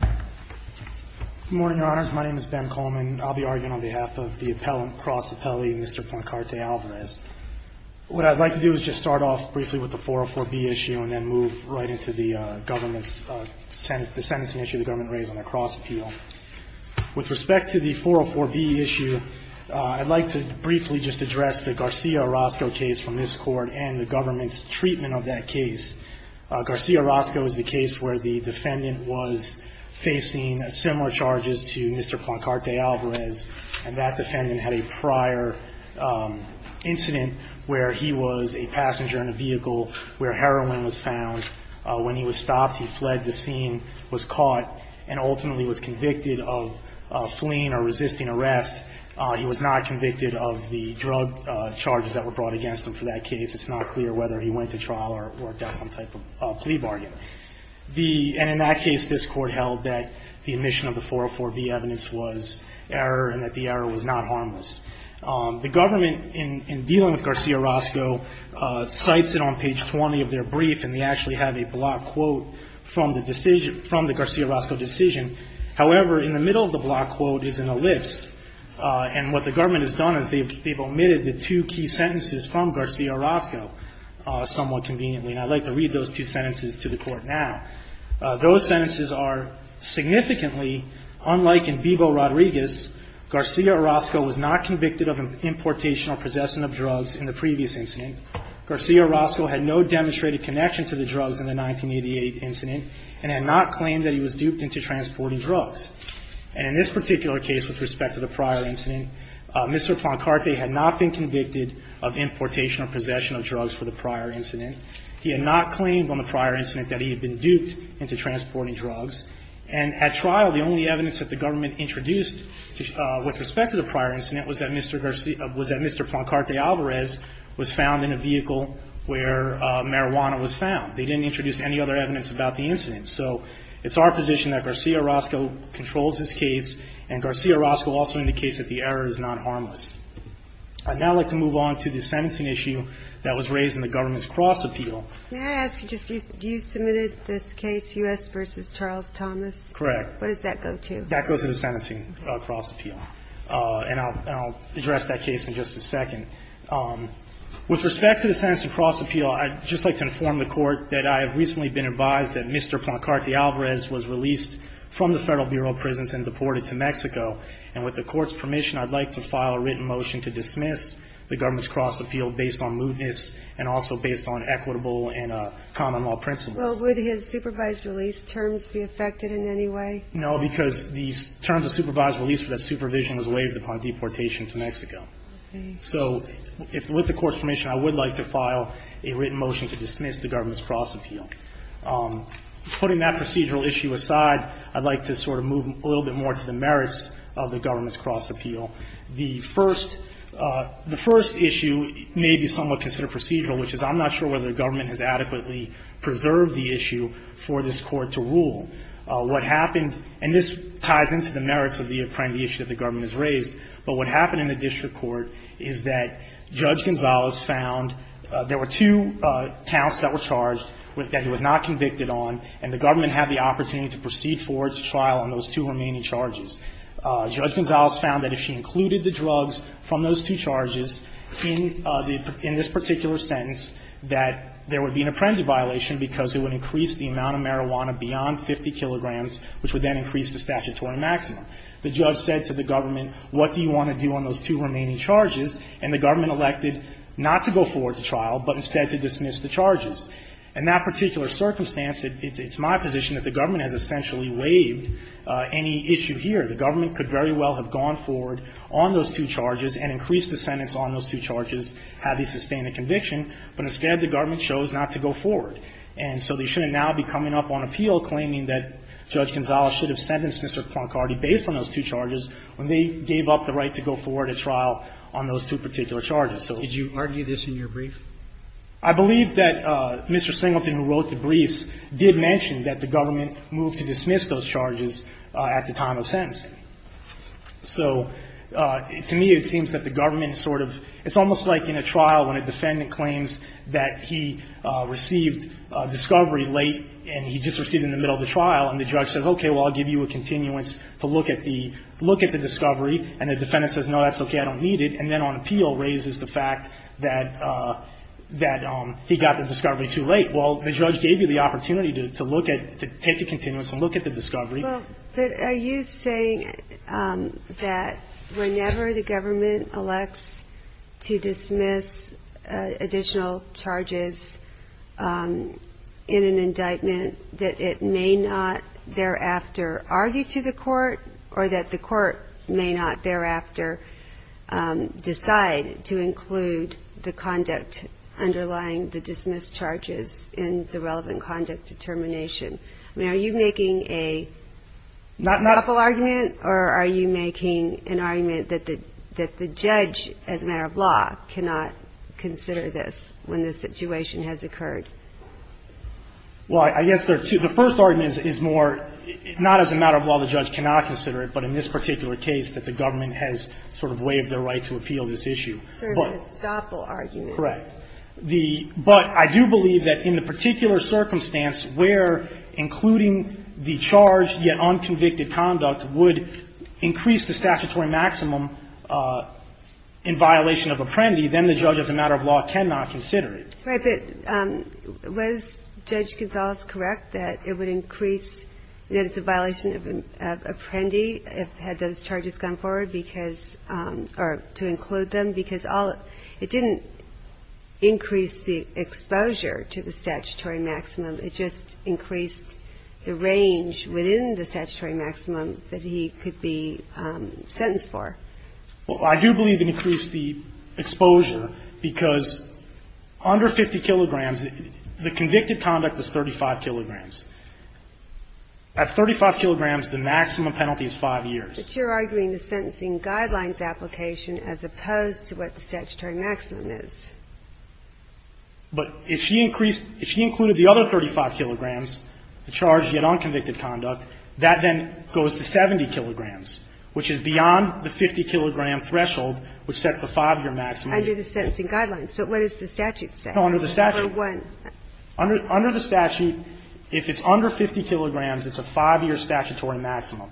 Good morning, Your Honors. My name is Ben Coleman. I'll be arguing on behalf of the appellant, cross appellee, Mr. Plancarte-Alvarez. What I'd like to do is just start off briefly with the 404B issue and then move right into the government's, the sentencing issue the government raised on the cross appeal. With respect to the 404B issue, I'd like to briefly just address the Garcia-Orozco case from this Court and the government's treatment of that case. Garcia-Orozco is the case where the defendant was facing similar charges to Mr. Plancarte-Alvarez, and that defendant had a prior incident where he was a passenger in a vehicle where heroin was found. When he was stopped, he fled the scene, was caught, and ultimately was convicted of fleeing or resisting arrest. He was not convicted of the drug charges that were brought against him for that case. It's not clear whether he went to trial or got some type of plea bargain. And in that case, this Court held that the omission of the 404B evidence was error and that the error was not harmless. The government, in dealing with Garcia-Orozco, cites it on page 20 of their brief, and they actually have a block quote from the decision, from the Garcia-Orozco decision. However, in the middle of the block quote is an ellipse. And what the government has done is they've omitted the two key sentences from Garcia-Orozco somewhat conveniently, and I'd like to read those two sentences to the Court now. Those sentences are significantly unlike in Vivo-Rodriguez. Garcia-Orozco was not convicted of importation or possession of drugs in the previous incident. Garcia-Orozco had no demonstrated connection to the drugs in the 1988 incident and had not claimed that he was duped into transporting drugs. And in this particular case, with respect to the prior incident, Mr. Plancarte had not been convicted of importation or possession of drugs for the prior incident. He had not claimed on the prior incident that he had been duped into transporting drugs. And at trial, the only evidence that the government introduced with respect to the prior incident was that Mr. Plancarte Alvarez was found in a vehicle where marijuana was found. They didn't introduce any other evidence about the incident. So it's our position that Garcia-Orozco controls this case, and Garcia-Orozco also indicates that the error is not harmless. I'd now like to move on to the sentencing issue that was raised in the government's cross-appeal. May I ask you just, you submitted this case, U.S. v. Charles Thomas? Correct. What does that go to? That goes to the sentencing cross-appeal. And I'll address that case in just a second. With respect to the sentencing cross-appeal, I'd just like to inform the Court that I have recently been advised that Mr. Plancarte Alvarez was released from the Federal Bureau of Prisons and deported to Mexico. And with the Court's permission, I'd like to file a written motion to dismiss the government's cross-appeal based on mootness and also based on equitable and common law principles. Well, would his supervised release terms be affected in any way? No, because these terms of supervised release for that supervision was waived upon deportation to Mexico. So with the Court's permission, I would like to file a written motion to dismiss the government's cross-appeal. Putting that procedural issue aside, I'd like to sort of move a little bit more to the merits of the government's cross-appeal. The first issue may be somewhat considered procedural, which is I'm not sure whether the government has adequately preserved the issue for this Court to rule. What happened, and this ties into the merits of the apprendee issue that the government has raised, but what happened in the district court is that Judge Gonzalez found there were two counts that were charged that he was not convicted on, and the government had the opportunity to proceed forward to trial on those two remaining charges. Judge Gonzalez found that if she included the drugs from those two charges in this particular sentence, that there would be an apprendee violation because it would increase the amount of marijuana beyond 50 kilograms, which would then increase the statutory maximum. The judge said to the government, what do you want to do on those two remaining charges? And the government elected not to go forward to trial, but instead to dismiss the charges. In that particular circumstance, it's my position that the government has essentially waived any issue here. The government could very well have gone forward on those two charges and increased the sentence on those two charges, had he sustained a conviction, but instead, the government chose not to go forward. And so they shouldn't now be coming up on appeal claiming that Judge Gonzalez should have sentenced Mr. Cronkarty based on those two charges when they gave up the right to go forward at trial on those two particular charges. So you argue this in your brief? I believe that Mr. Singleton, who wrote the briefs, did mention that the government moved to dismiss those charges at the time of sentencing. So to me, it seems that the government sort of – it's almost like in a trial when a defendant claims that he received discovery late and he just received it in the middle of the trial, and the judge says, okay, well, I'll give you a continuance to look at the – look at the discovery. And the defendant says, no, that's okay, I don't need it. And then on appeal raises the fact that the defendant – that he got the discovery too late. Well, the judge gave you the opportunity to look at – to take a continuance and look at the discovery. Well, but are you saying that whenever the government elects to dismiss additional charges in an indictment, that it may not thereafter argue to the court, or that the court may not thereafter decide to include the conduct underlying the dismissed charges in the relevant conduct determination? I mean, are you making a example argument, or are you making an argument that the judge, as a matter of law, cannot consider this when this situation has occurred? Well, I guess there are two. The first argument is more – not as a matter of law the judge cannot consider it, but in this particular case, that the government has sort of waived their right to appeal this issue. Sort of an estoppel argument. Correct. But I do believe that in the particular circumstance where including the charge, yet unconvicted conduct, would increase the statutory maximum in violation of Apprendi, then the judge, as a matter of law, cannot consider it. Right, but was Judge Gonzales correct that it would increase – that it's a violation of Apprendi if – had those charges gone forward because – or to include them? Because all – it didn't increase the exposure to the statutory maximum. It just increased the range within the statutory maximum that he could be sentenced for. Well, I do believe it increased the exposure because under 50 kilograms the convicted conduct was 35 kilograms. At 35 kilograms, the maximum penalty is five years. But you're arguing the sentencing guidelines application as opposed to what the statutory maximum is. But if she increased – if she included the other 35 kilograms, the charge, yet unconvicted conduct, that then goes to 70 kilograms, which is beyond the 50 kilogram threshold, which sets the five-year maximum. Under the sentencing guidelines. But what does the statute say? No, under the statute. Or what? Under the statute, if it's under 50 kilograms, it's a five-year statutory maximum.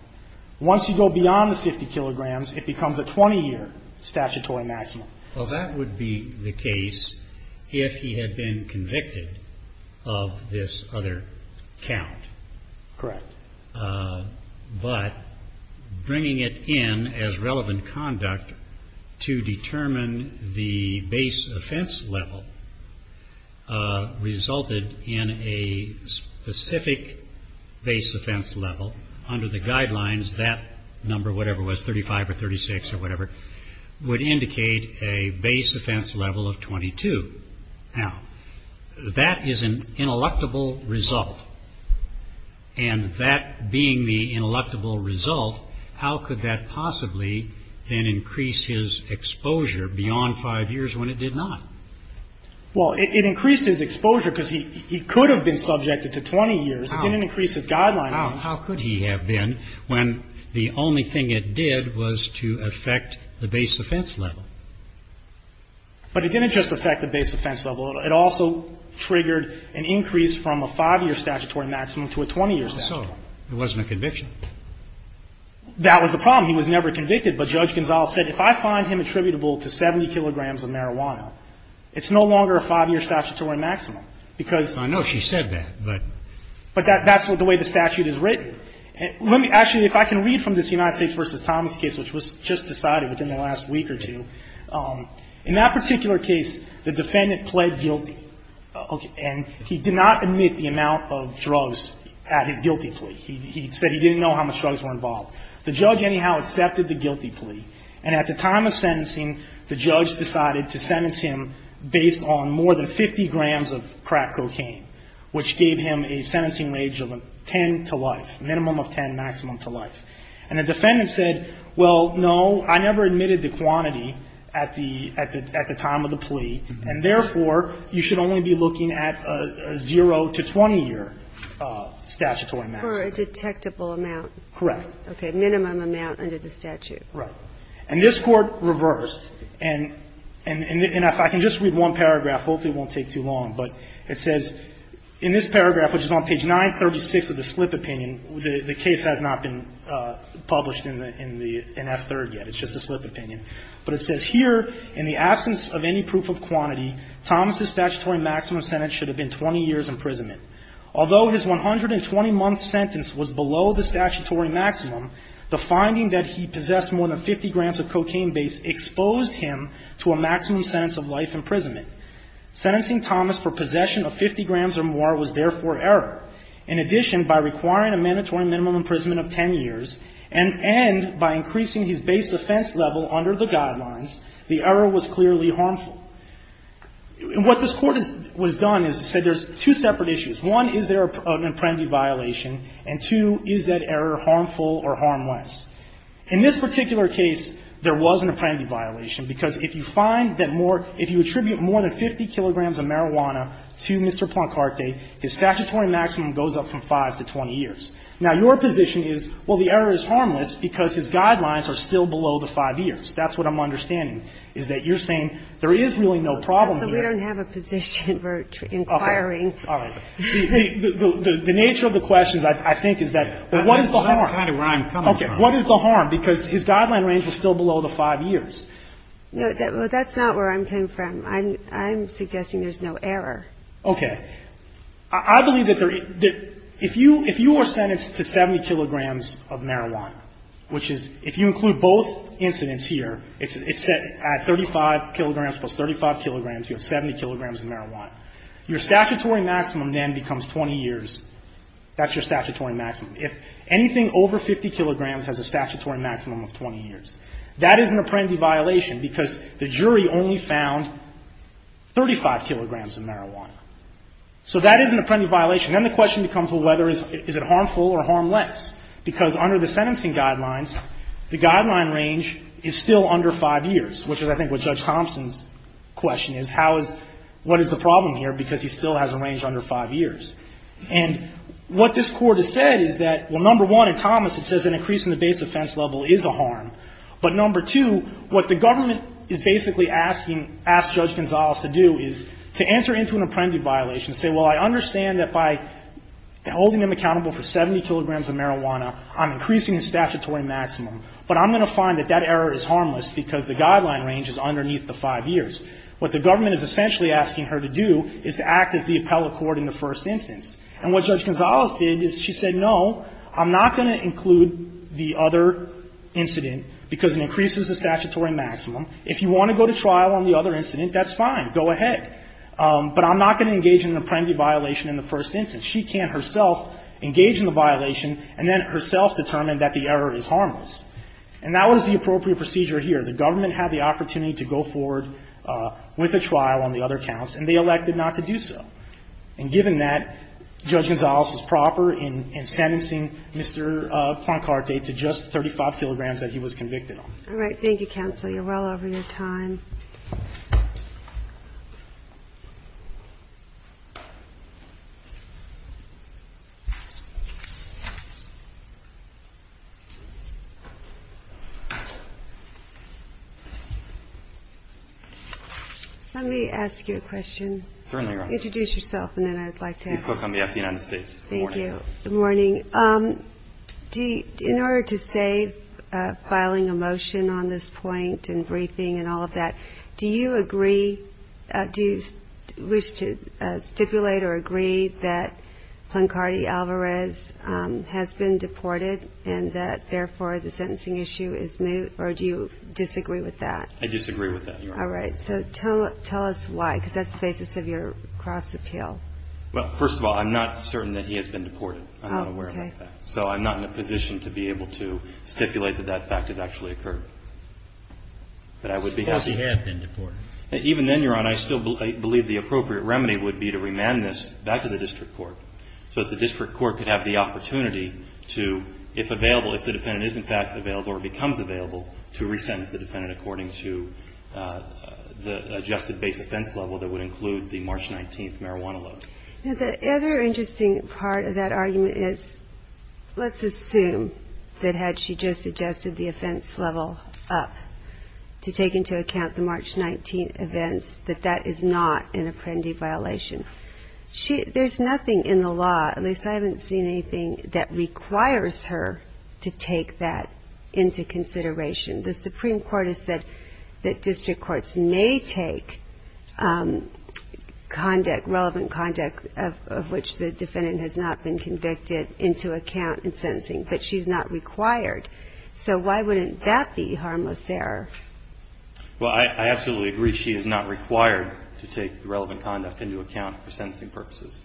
Once you go beyond the 50 kilograms, it becomes a 20-year statutory maximum. Well, that would be the case if he had been convicted of this other count. Correct. But bringing it in as relevant conduct to determine the base offense level resulted in a specific base offense level. Under the guidelines, that number, whatever it was, 35 or 36 or whatever, would indicate a base offense level of 22. Now, that is an ineluctable result. And that being the ineluctable result, how could that possibly then increase his exposure beyond five years when it did not? Well, it increased his exposure because he could have been subjected to 20 years. It didn't increase his guideline. How could he have been when the only thing it did was to affect the base offense level? But it didn't just affect the base offense level. It also triggered an increase from a five-year statutory maximum to a 20-year statutory maximum. So it wasn't a conviction? That was the problem. He was never convicted. But Judge Gonzales said, if I find him attributable to 70 kilograms of marijuana, it's no longer a five-year statutory maximum. I know she said that. But that's the way the statute is written. Actually, if I can read from this United States v. Thomas case, which was just decided within the last week or two, in that particular case, the defendant pled guilty. And he did not admit the amount of drugs at his guilty plea. He said he didn't know how much drugs were involved. The judge, anyhow, accepted the guilty plea. And at the time of sentencing, the judge decided to sentence him based on more than 50 grams of crack cocaine, which gave him a sentencing range of 10 to life, minimum of 10, maximum to life. And the defendant said, well, no, I never admitted the quantity at the time of the plea. And therefore, you should only be looking at a zero to 20-year statutory maximum. For a detectable amount? Correct. Okay. Minimum amount under the statute. Right. And this Court reversed. And if I can just read one paragraph, hopefully it won't take too long, but it says in this paragraph, which is on page 936 of the slip opinion, the case has not been published in F3 yet. It's just a slip opinion. But it says here, in the absence of any proof of quantity, Thomas's statutory maximum sentence should have been 20 years imprisonment. Although his 120-month sentence was below the statutory maximum, the finding that he possessed more than 50 grams of cocaine base exposed him to a maximum sentence of life imprisonment. Sentencing Thomas for possession of 50 grams or more was therefore error. In addition, by requiring a mandatory minimum imprisonment of 10 years and by increasing his base offense level under the guidelines, the error was clearly harmful. What this Court has done is said there's two separate issues. One, is there an apprendi violation? And two, is that error harmful or harmless? In this particular case, there was an apprendi violation, because if you find that more, if you attribute more than 50 kilograms of marijuana to Mr. Plancarte, his statutory maximum goes up from 5 to 20 years. Now, your position is, well, the error is harmless because his guidelines are still below the 5 years. That's what I'm understanding, is that you're saying there is really no problem here. Ginsburg. So we don't have a position for inquiring. Feigin. Okay. All right. The nature of the question, I think, is that that's kind of where I'm coming from. Feigin. What is the harm? Because his guideline range is still below the 5 years. Ginsburg. No, that's not where I'm coming from. I'm suggesting there's no error. Feigin. Okay. I believe that if you are sentenced to 70 kilograms of marijuana, which is, if you include both incidents here, it's set at 35 kilograms plus 35 kilograms, you have 70 kilograms of marijuana. Your statutory maximum then becomes 20 years. That's your statutory maximum. If anything over 50 kilograms has a statutory maximum of 20 years, that is an apprendee violation because the jury only found 35 kilograms of marijuana. So that is an apprendee violation. Then the question becomes, well, is it harmful or harmless? Because under the sentencing guidelines, the guideline range is still under 5 years, which is, I think, what Judge Thompson's question is, how is, what is the problem here because he still has a range under 5 years? And what this court has said is that, well, number one, in Thomas it says an increase in the base offense level is a harm, but number two, what the government is basically asking, asked Judge Gonzalez to do is to answer into an apprendee violation and say, well, I understand that by holding him accountable for 70 kilograms of marijuana, I'm increasing his statutory maximum, but I'm going to find that that error is harmless because the guideline range is underneath the 5 years. What the government is essentially asking her to do is to act as the appellate court in the first instance. And what Judge Gonzalez did is she said, no, I'm not going to include the other incident because it increases the statutory maximum. If you want to go to trial on the other incident, that's fine. Go ahead. But I'm not going to engage in an apprendee violation in the first instance. She can't herself engage in the violation and then herself determine that the error is harmless. And that was the appropriate procedure here. The government had the opportunity to go forward with a trial on the other counts, and they elected not to do so. And given that, Judge Gonzalez was proper in sentencing Mr. Poincarte to just 35 kilograms that he was convicted on. All right. Thank you, Counsel. You're well over your time. Let me ask you a question. Introduce yourself and then I'd like to ask you. Good morning. In order to save filing a motion on this point and briefing and all of that, do you agree, do you wish to stipulate or agree that Poincarte Alvarez has been deported and that therefore the sentencing issue is resolved? Do you disagree with that? I disagree with that, Your Honor. All right. So tell us why, because that's the basis of your cross-appeal. Well, first of all, I'm not certain that he has been deported. I'm not aware of that. So I'm not in a position to be able to stipulate that that fact has actually occurred. But I would be happy. Suppose he had been deported. Even then, Your Honor, I still believe the appropriate remedy would be to remand this back to the District Court so that the District Court could have the opportunity to, if available, if the defendant is in fact available or becomes available, to resentence the defendant according to the adjusted base offense level that would include the March 19th marijuana load. The other interesting part of that argument is, let's assume that had she just adjusted the offense level up to take into account the March 19th events, that that is not an apprendee violation. There's nothing in the law, at least I haven't seen anything that requires her to take that into consideration. The Supreme Court has said that District Courts may take conduct, relevant conduct of which the defendant has not been convicted into account in sentencing, but she's not required. So why wouldn't that be harmless error? Well, I absolutely agree. She is not required to take relevant conduct into account for sentencing purposes.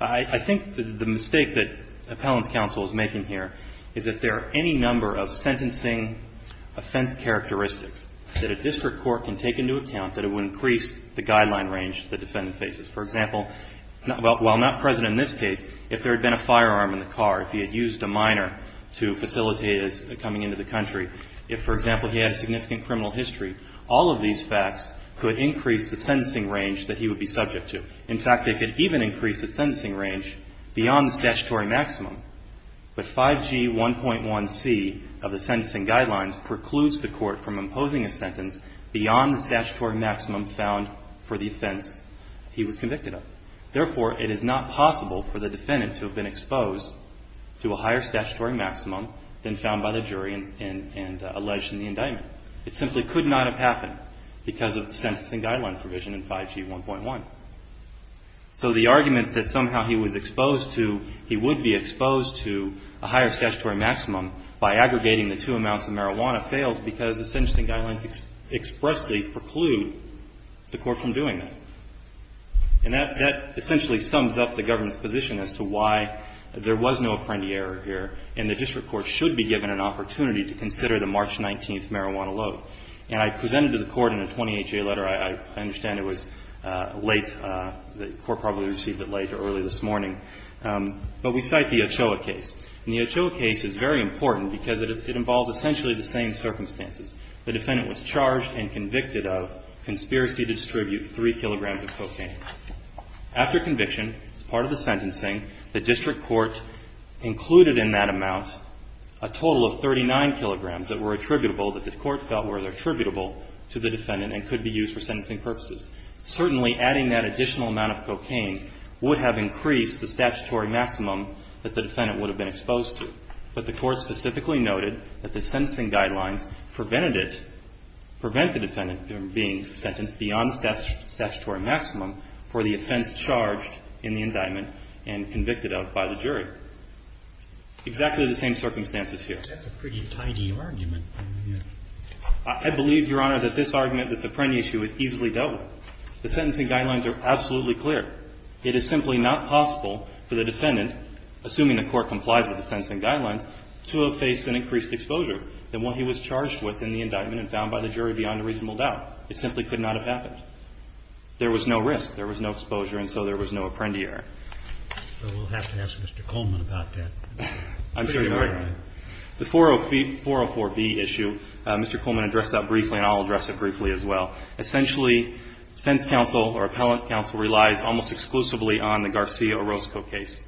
I think the mistake that Appellant's counsel is making here is if there are any number of sentencing offense characteristics that a District Court can take into account that it would increase the guideline range the defendant faces. For example, while not present in this case, if there had been a firearm in the car, if he had used a minor to facilitate his coming into the country, if, for example, he has significant criminal history, all of these facts could increase the sentencing range that he would be subject to. In fact, they could even increase the sentencing range beyond the statutory maximum. But 5G1.1c of the sentencing guidelines precludes the Court from imposing a sentence beyond the statutory maximum found for the offense he was convicted of. Therefore, it is not possible for the defendant to have been exposed to a higher statutory maximum than found by the jury and alleged in the indictment. It simply could not have happened because of the sentencing guidelines. So the argument that somehow he was exposed to he would be exposed to a higher statutory maximum by aggregating the two amounts of marijuana fails because the sentencing guidelines expressly preclude the Court from doing that. And that essentially sums up the government's position as to why there was no apprendee error here, and the District Court should be given an opportunity to consider the March 19th marijuana load. And I presented to the Court in a 20HA letter, I understand it was late, the Court probably received it late or early this morning. But we cite the Ochoa case. And the Ochoa case is very important because it involves essentially the same circumstances. The defendant was charged and convicted of conspiracy to distribute 3 kilograms of cocaine. After conviction, as part of the sentencing, the District Court included in that amount a total of 39 kilograms that were attributable, that the Court felt were attributable to the defendant and could be used for sentencing purposes. Certainly adding that additional amount of cocaine would have increased the statutory maximum that the defendant would have been exposed to. But the Court specifically noted that the sentencing guidelines prevented it, prevent the defendant from being sentenced beyond the statutory maximum for the offense charged in the indictment and convicted of by the jury. Exactly the same circumstances here. That's a pretty tidy argument. I believe, Your Honor, that this argument, this Apprendi issue, is easily dealt with. The sentencing guidelines are absolutely clear. It is simply not possible for the defendant, assuming the Court complies with the sentencing guidelines, to have faced an increased exposure than what he was charged with in the indictment and found by the jury beyond a reasonable doubt. It simply could not have happened. There was no risk. There was no exposure. And so there was no Apprendi error. We'll have to ask Mr. Coleman about that. The 404B issue, Mr. Coleman addressed that briefly and I'll address it briefly as well. Essentially, defense counsel or appellate counsel relies almost exclusively on the Garcia Orozco case.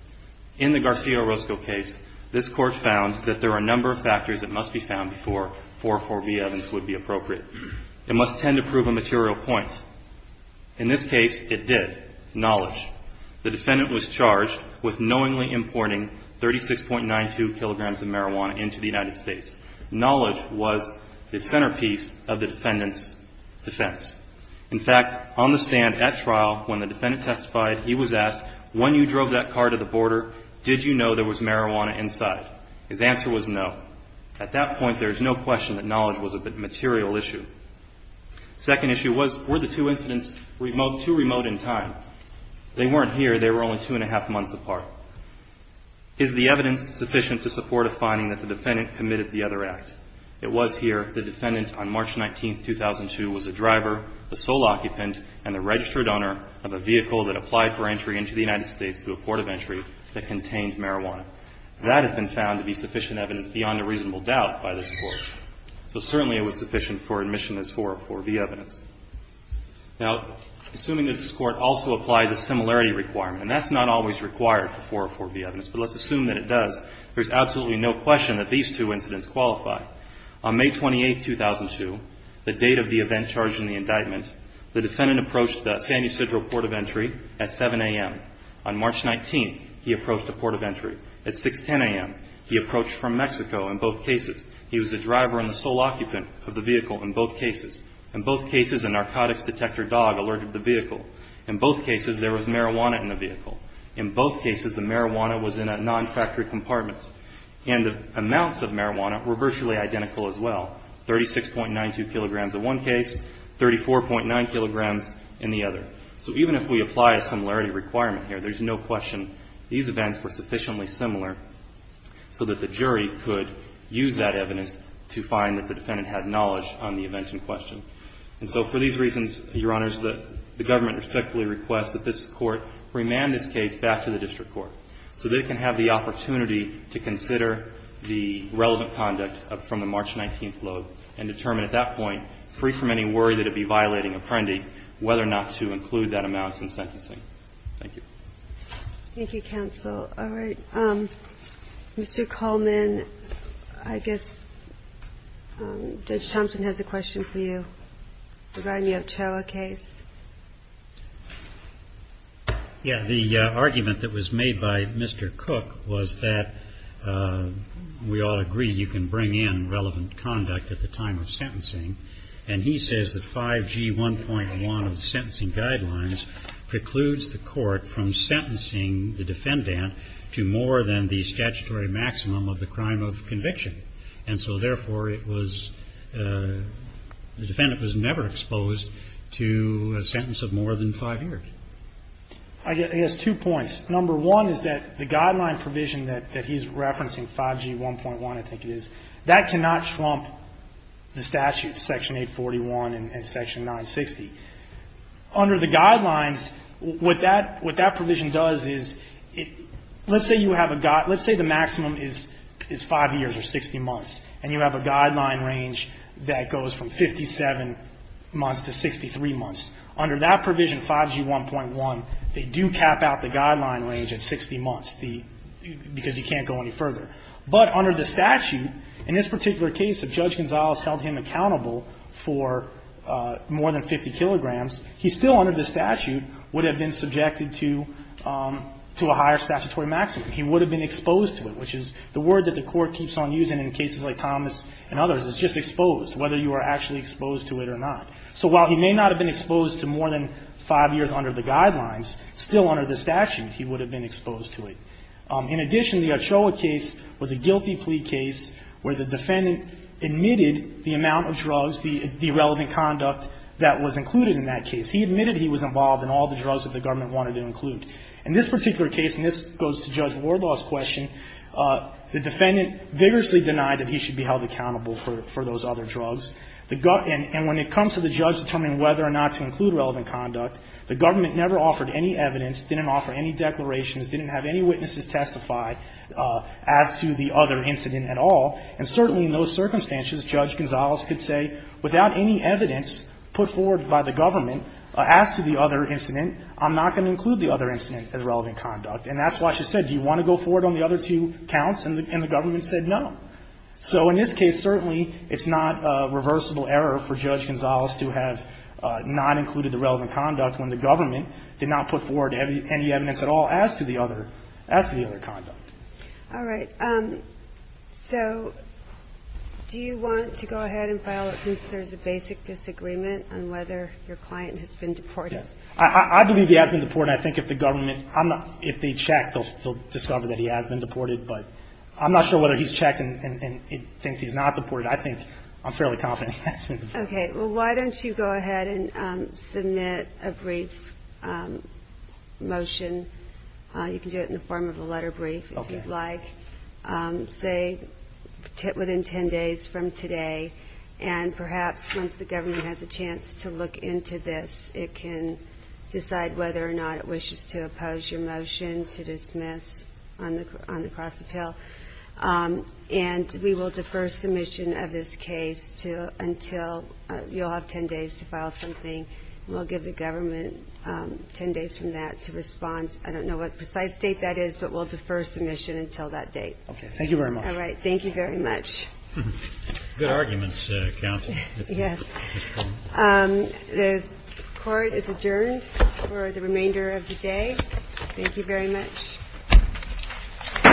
In the Garcia Orozco case, this Court found that there are a number of factors that must be found before 404B evidence would be appropriate. It must tend to prove a material point. In this case, it did. Knowledge. The defendant was charged with knowingly importing 36.92 kilograms of marijuana into the United States. Knowledge was the centerpiece of the defendant's defense. In fact, on the stand at trial, when the defendant testified, he was asked when you drove that car to the border, did you know there was marijuana inside? His answer was no. At that point, there is no question that knowledge was a material issue. Second issue was, were the two incidents too remote in time? They weren't here. They were only two and a half months apart. Is the evidence sufficient to support a finding that the defendant committed the other act? It was here. The defendant on March 19, 2002 was a driver, the sole occupant, and the registered owner of a vehicle that applied for entry into the United States through a port of entry that contained marijuana. That has been found to be sufficient evidence beyond a reasonable doubt by this Court. So certainly it was sufficient for admission as 404B evidence. Now, assuming that this Court also applied the similarity requirement and that's not always required for 404B evidence, but let's assume that it does, there's absolutely no question that these two incidents qualify. On May 28, 2002, the date of the event charged in the indictment, the defendant approached the San Ysidro port of entry at 7 a.m. On March 19, he approached the port of entry at 6.10 a.m. He approached from Mexico in both cases. He was the driver and the sole occupant of the vehicle in both cases. In both cases, a narcotics detector dog alerted the vehicle. In both cases, there was marijuana in the vehicle. In both cases, the marijuana was in a non-factory compartment. And the amounts of marijuana were virtually identical as well. 36.92 kilograms in one case, 34.9 kilograms in the other. So even if we apply a similarity requirement here, there's no question these events were sufficiently similar so that the jury could use that evidence to find that the defendant had knowledge on the event in question. And so for these reasons, Your Honors, the government respectfully requests that this Court remand this case back to the district court so they can have the opportunity to consider the relevant conduct from the March 19 load and determine at that point, free from any worry that it would be violating Apprendi, whether or not to include that amount in sentencing. Thank you. Thank you, counsel. All right. Mr. Coleman, I guess Judge Thompson has a question for you regarding the Otoa case. Yeah. The argument that was made by Mr. Cook was that we all agree you can bring in relevant conduct at the time of sentencing. And he says that 5G 1.1 of the sentencing guidelines precludes the Court from sentencing the defendant to more than the statutory maximum of the crime of conviction. And so therefore, it was the defendant was never exposed to a sentence of more than five years. He has two points. Number one is that the guideline provision that he's referencing, 5G 1.1, I think it is, that cannot trump the statute, Section 841 and Section 960. Under the guidelines, what that provision does is let's say the maximum is five years or 60 months and you have a guideline range that goes from 57 months to 63 months. Under that provision, 5G 1.1, they do cap out the guideline range at 60 months because you can't go any further. But under the statute, in this particular case, if Judge Gonzalez held him accountable for more than 50 kilograms, he still, under the statute, would have been subjected to a higher statutory maximum. He would have been exposed to it, which is the word that the court keeps on using in cases like Thomas and others is just exposed, whether you are actually exposed to it or not. So while he may not have been exposed to more than five years under the guidelines, still under the statute, he would have been exposed to it. In addition, the Ochoa case was a guilty plea case where the defendant admitted the amount of drugs, the irrelevant conduct that was included in that case. He admitted he was involved in all the drugs that the government wanted to include. In this particular case, and this goes to Judge Gonzalez, the defendant vigorously denied that he should be held accountable for those other drugs. And when it comes to the judge determining whether or not to include relevant conduct, the government never offered any evidence, didn't offer any declarations, didn't have any witnesses testify as to the other incident at all. And certainly in those circumstances, Judge Gonzalez could say, without any evidence put forward by the government as to the other incident, I'm not going to include the other incident as relevant conduct. And that's why she said, do you want to go forward on the other two counts? And the government said no. So in this case, certainly it's not a reversible error for Judge Gonzalez to have not included the relevant conduct when the government did not put forward any evidence at all as to the other, as to the other conduct. All right. So do you want to go ahead and file it since there's a basic disagreement on whether your client has been deported? Yes. I believe he has been deported. I think if the government I'm not, if they check, they'll discover that he has been deported, but I'm not sure whether he's checked and thinks he's not deported. I think I'm fairly confident he has been deported. Okay. Well, why don't you go ahead and submit a brief motion. You can do it in the form of a letter brief if you'd like. Say within 10 days from today, and perhaps once the government has a chance to look into this, it can decide whether or not it wishes to oppose your motion to dismiss on the cross-appeal. And we will defer submission of this case until, you'll have 10 days to file something, and we'll give the government 10 days from that to respond. I don't know what precise date that is, but we'll defer submission until that date. Okay. Thank you very much. All right. Thank you very much. Good arguments, Counsel. Yes. The court is adjourned for the remainder of the day. Thank you very much. All rise. The second's been adjourned.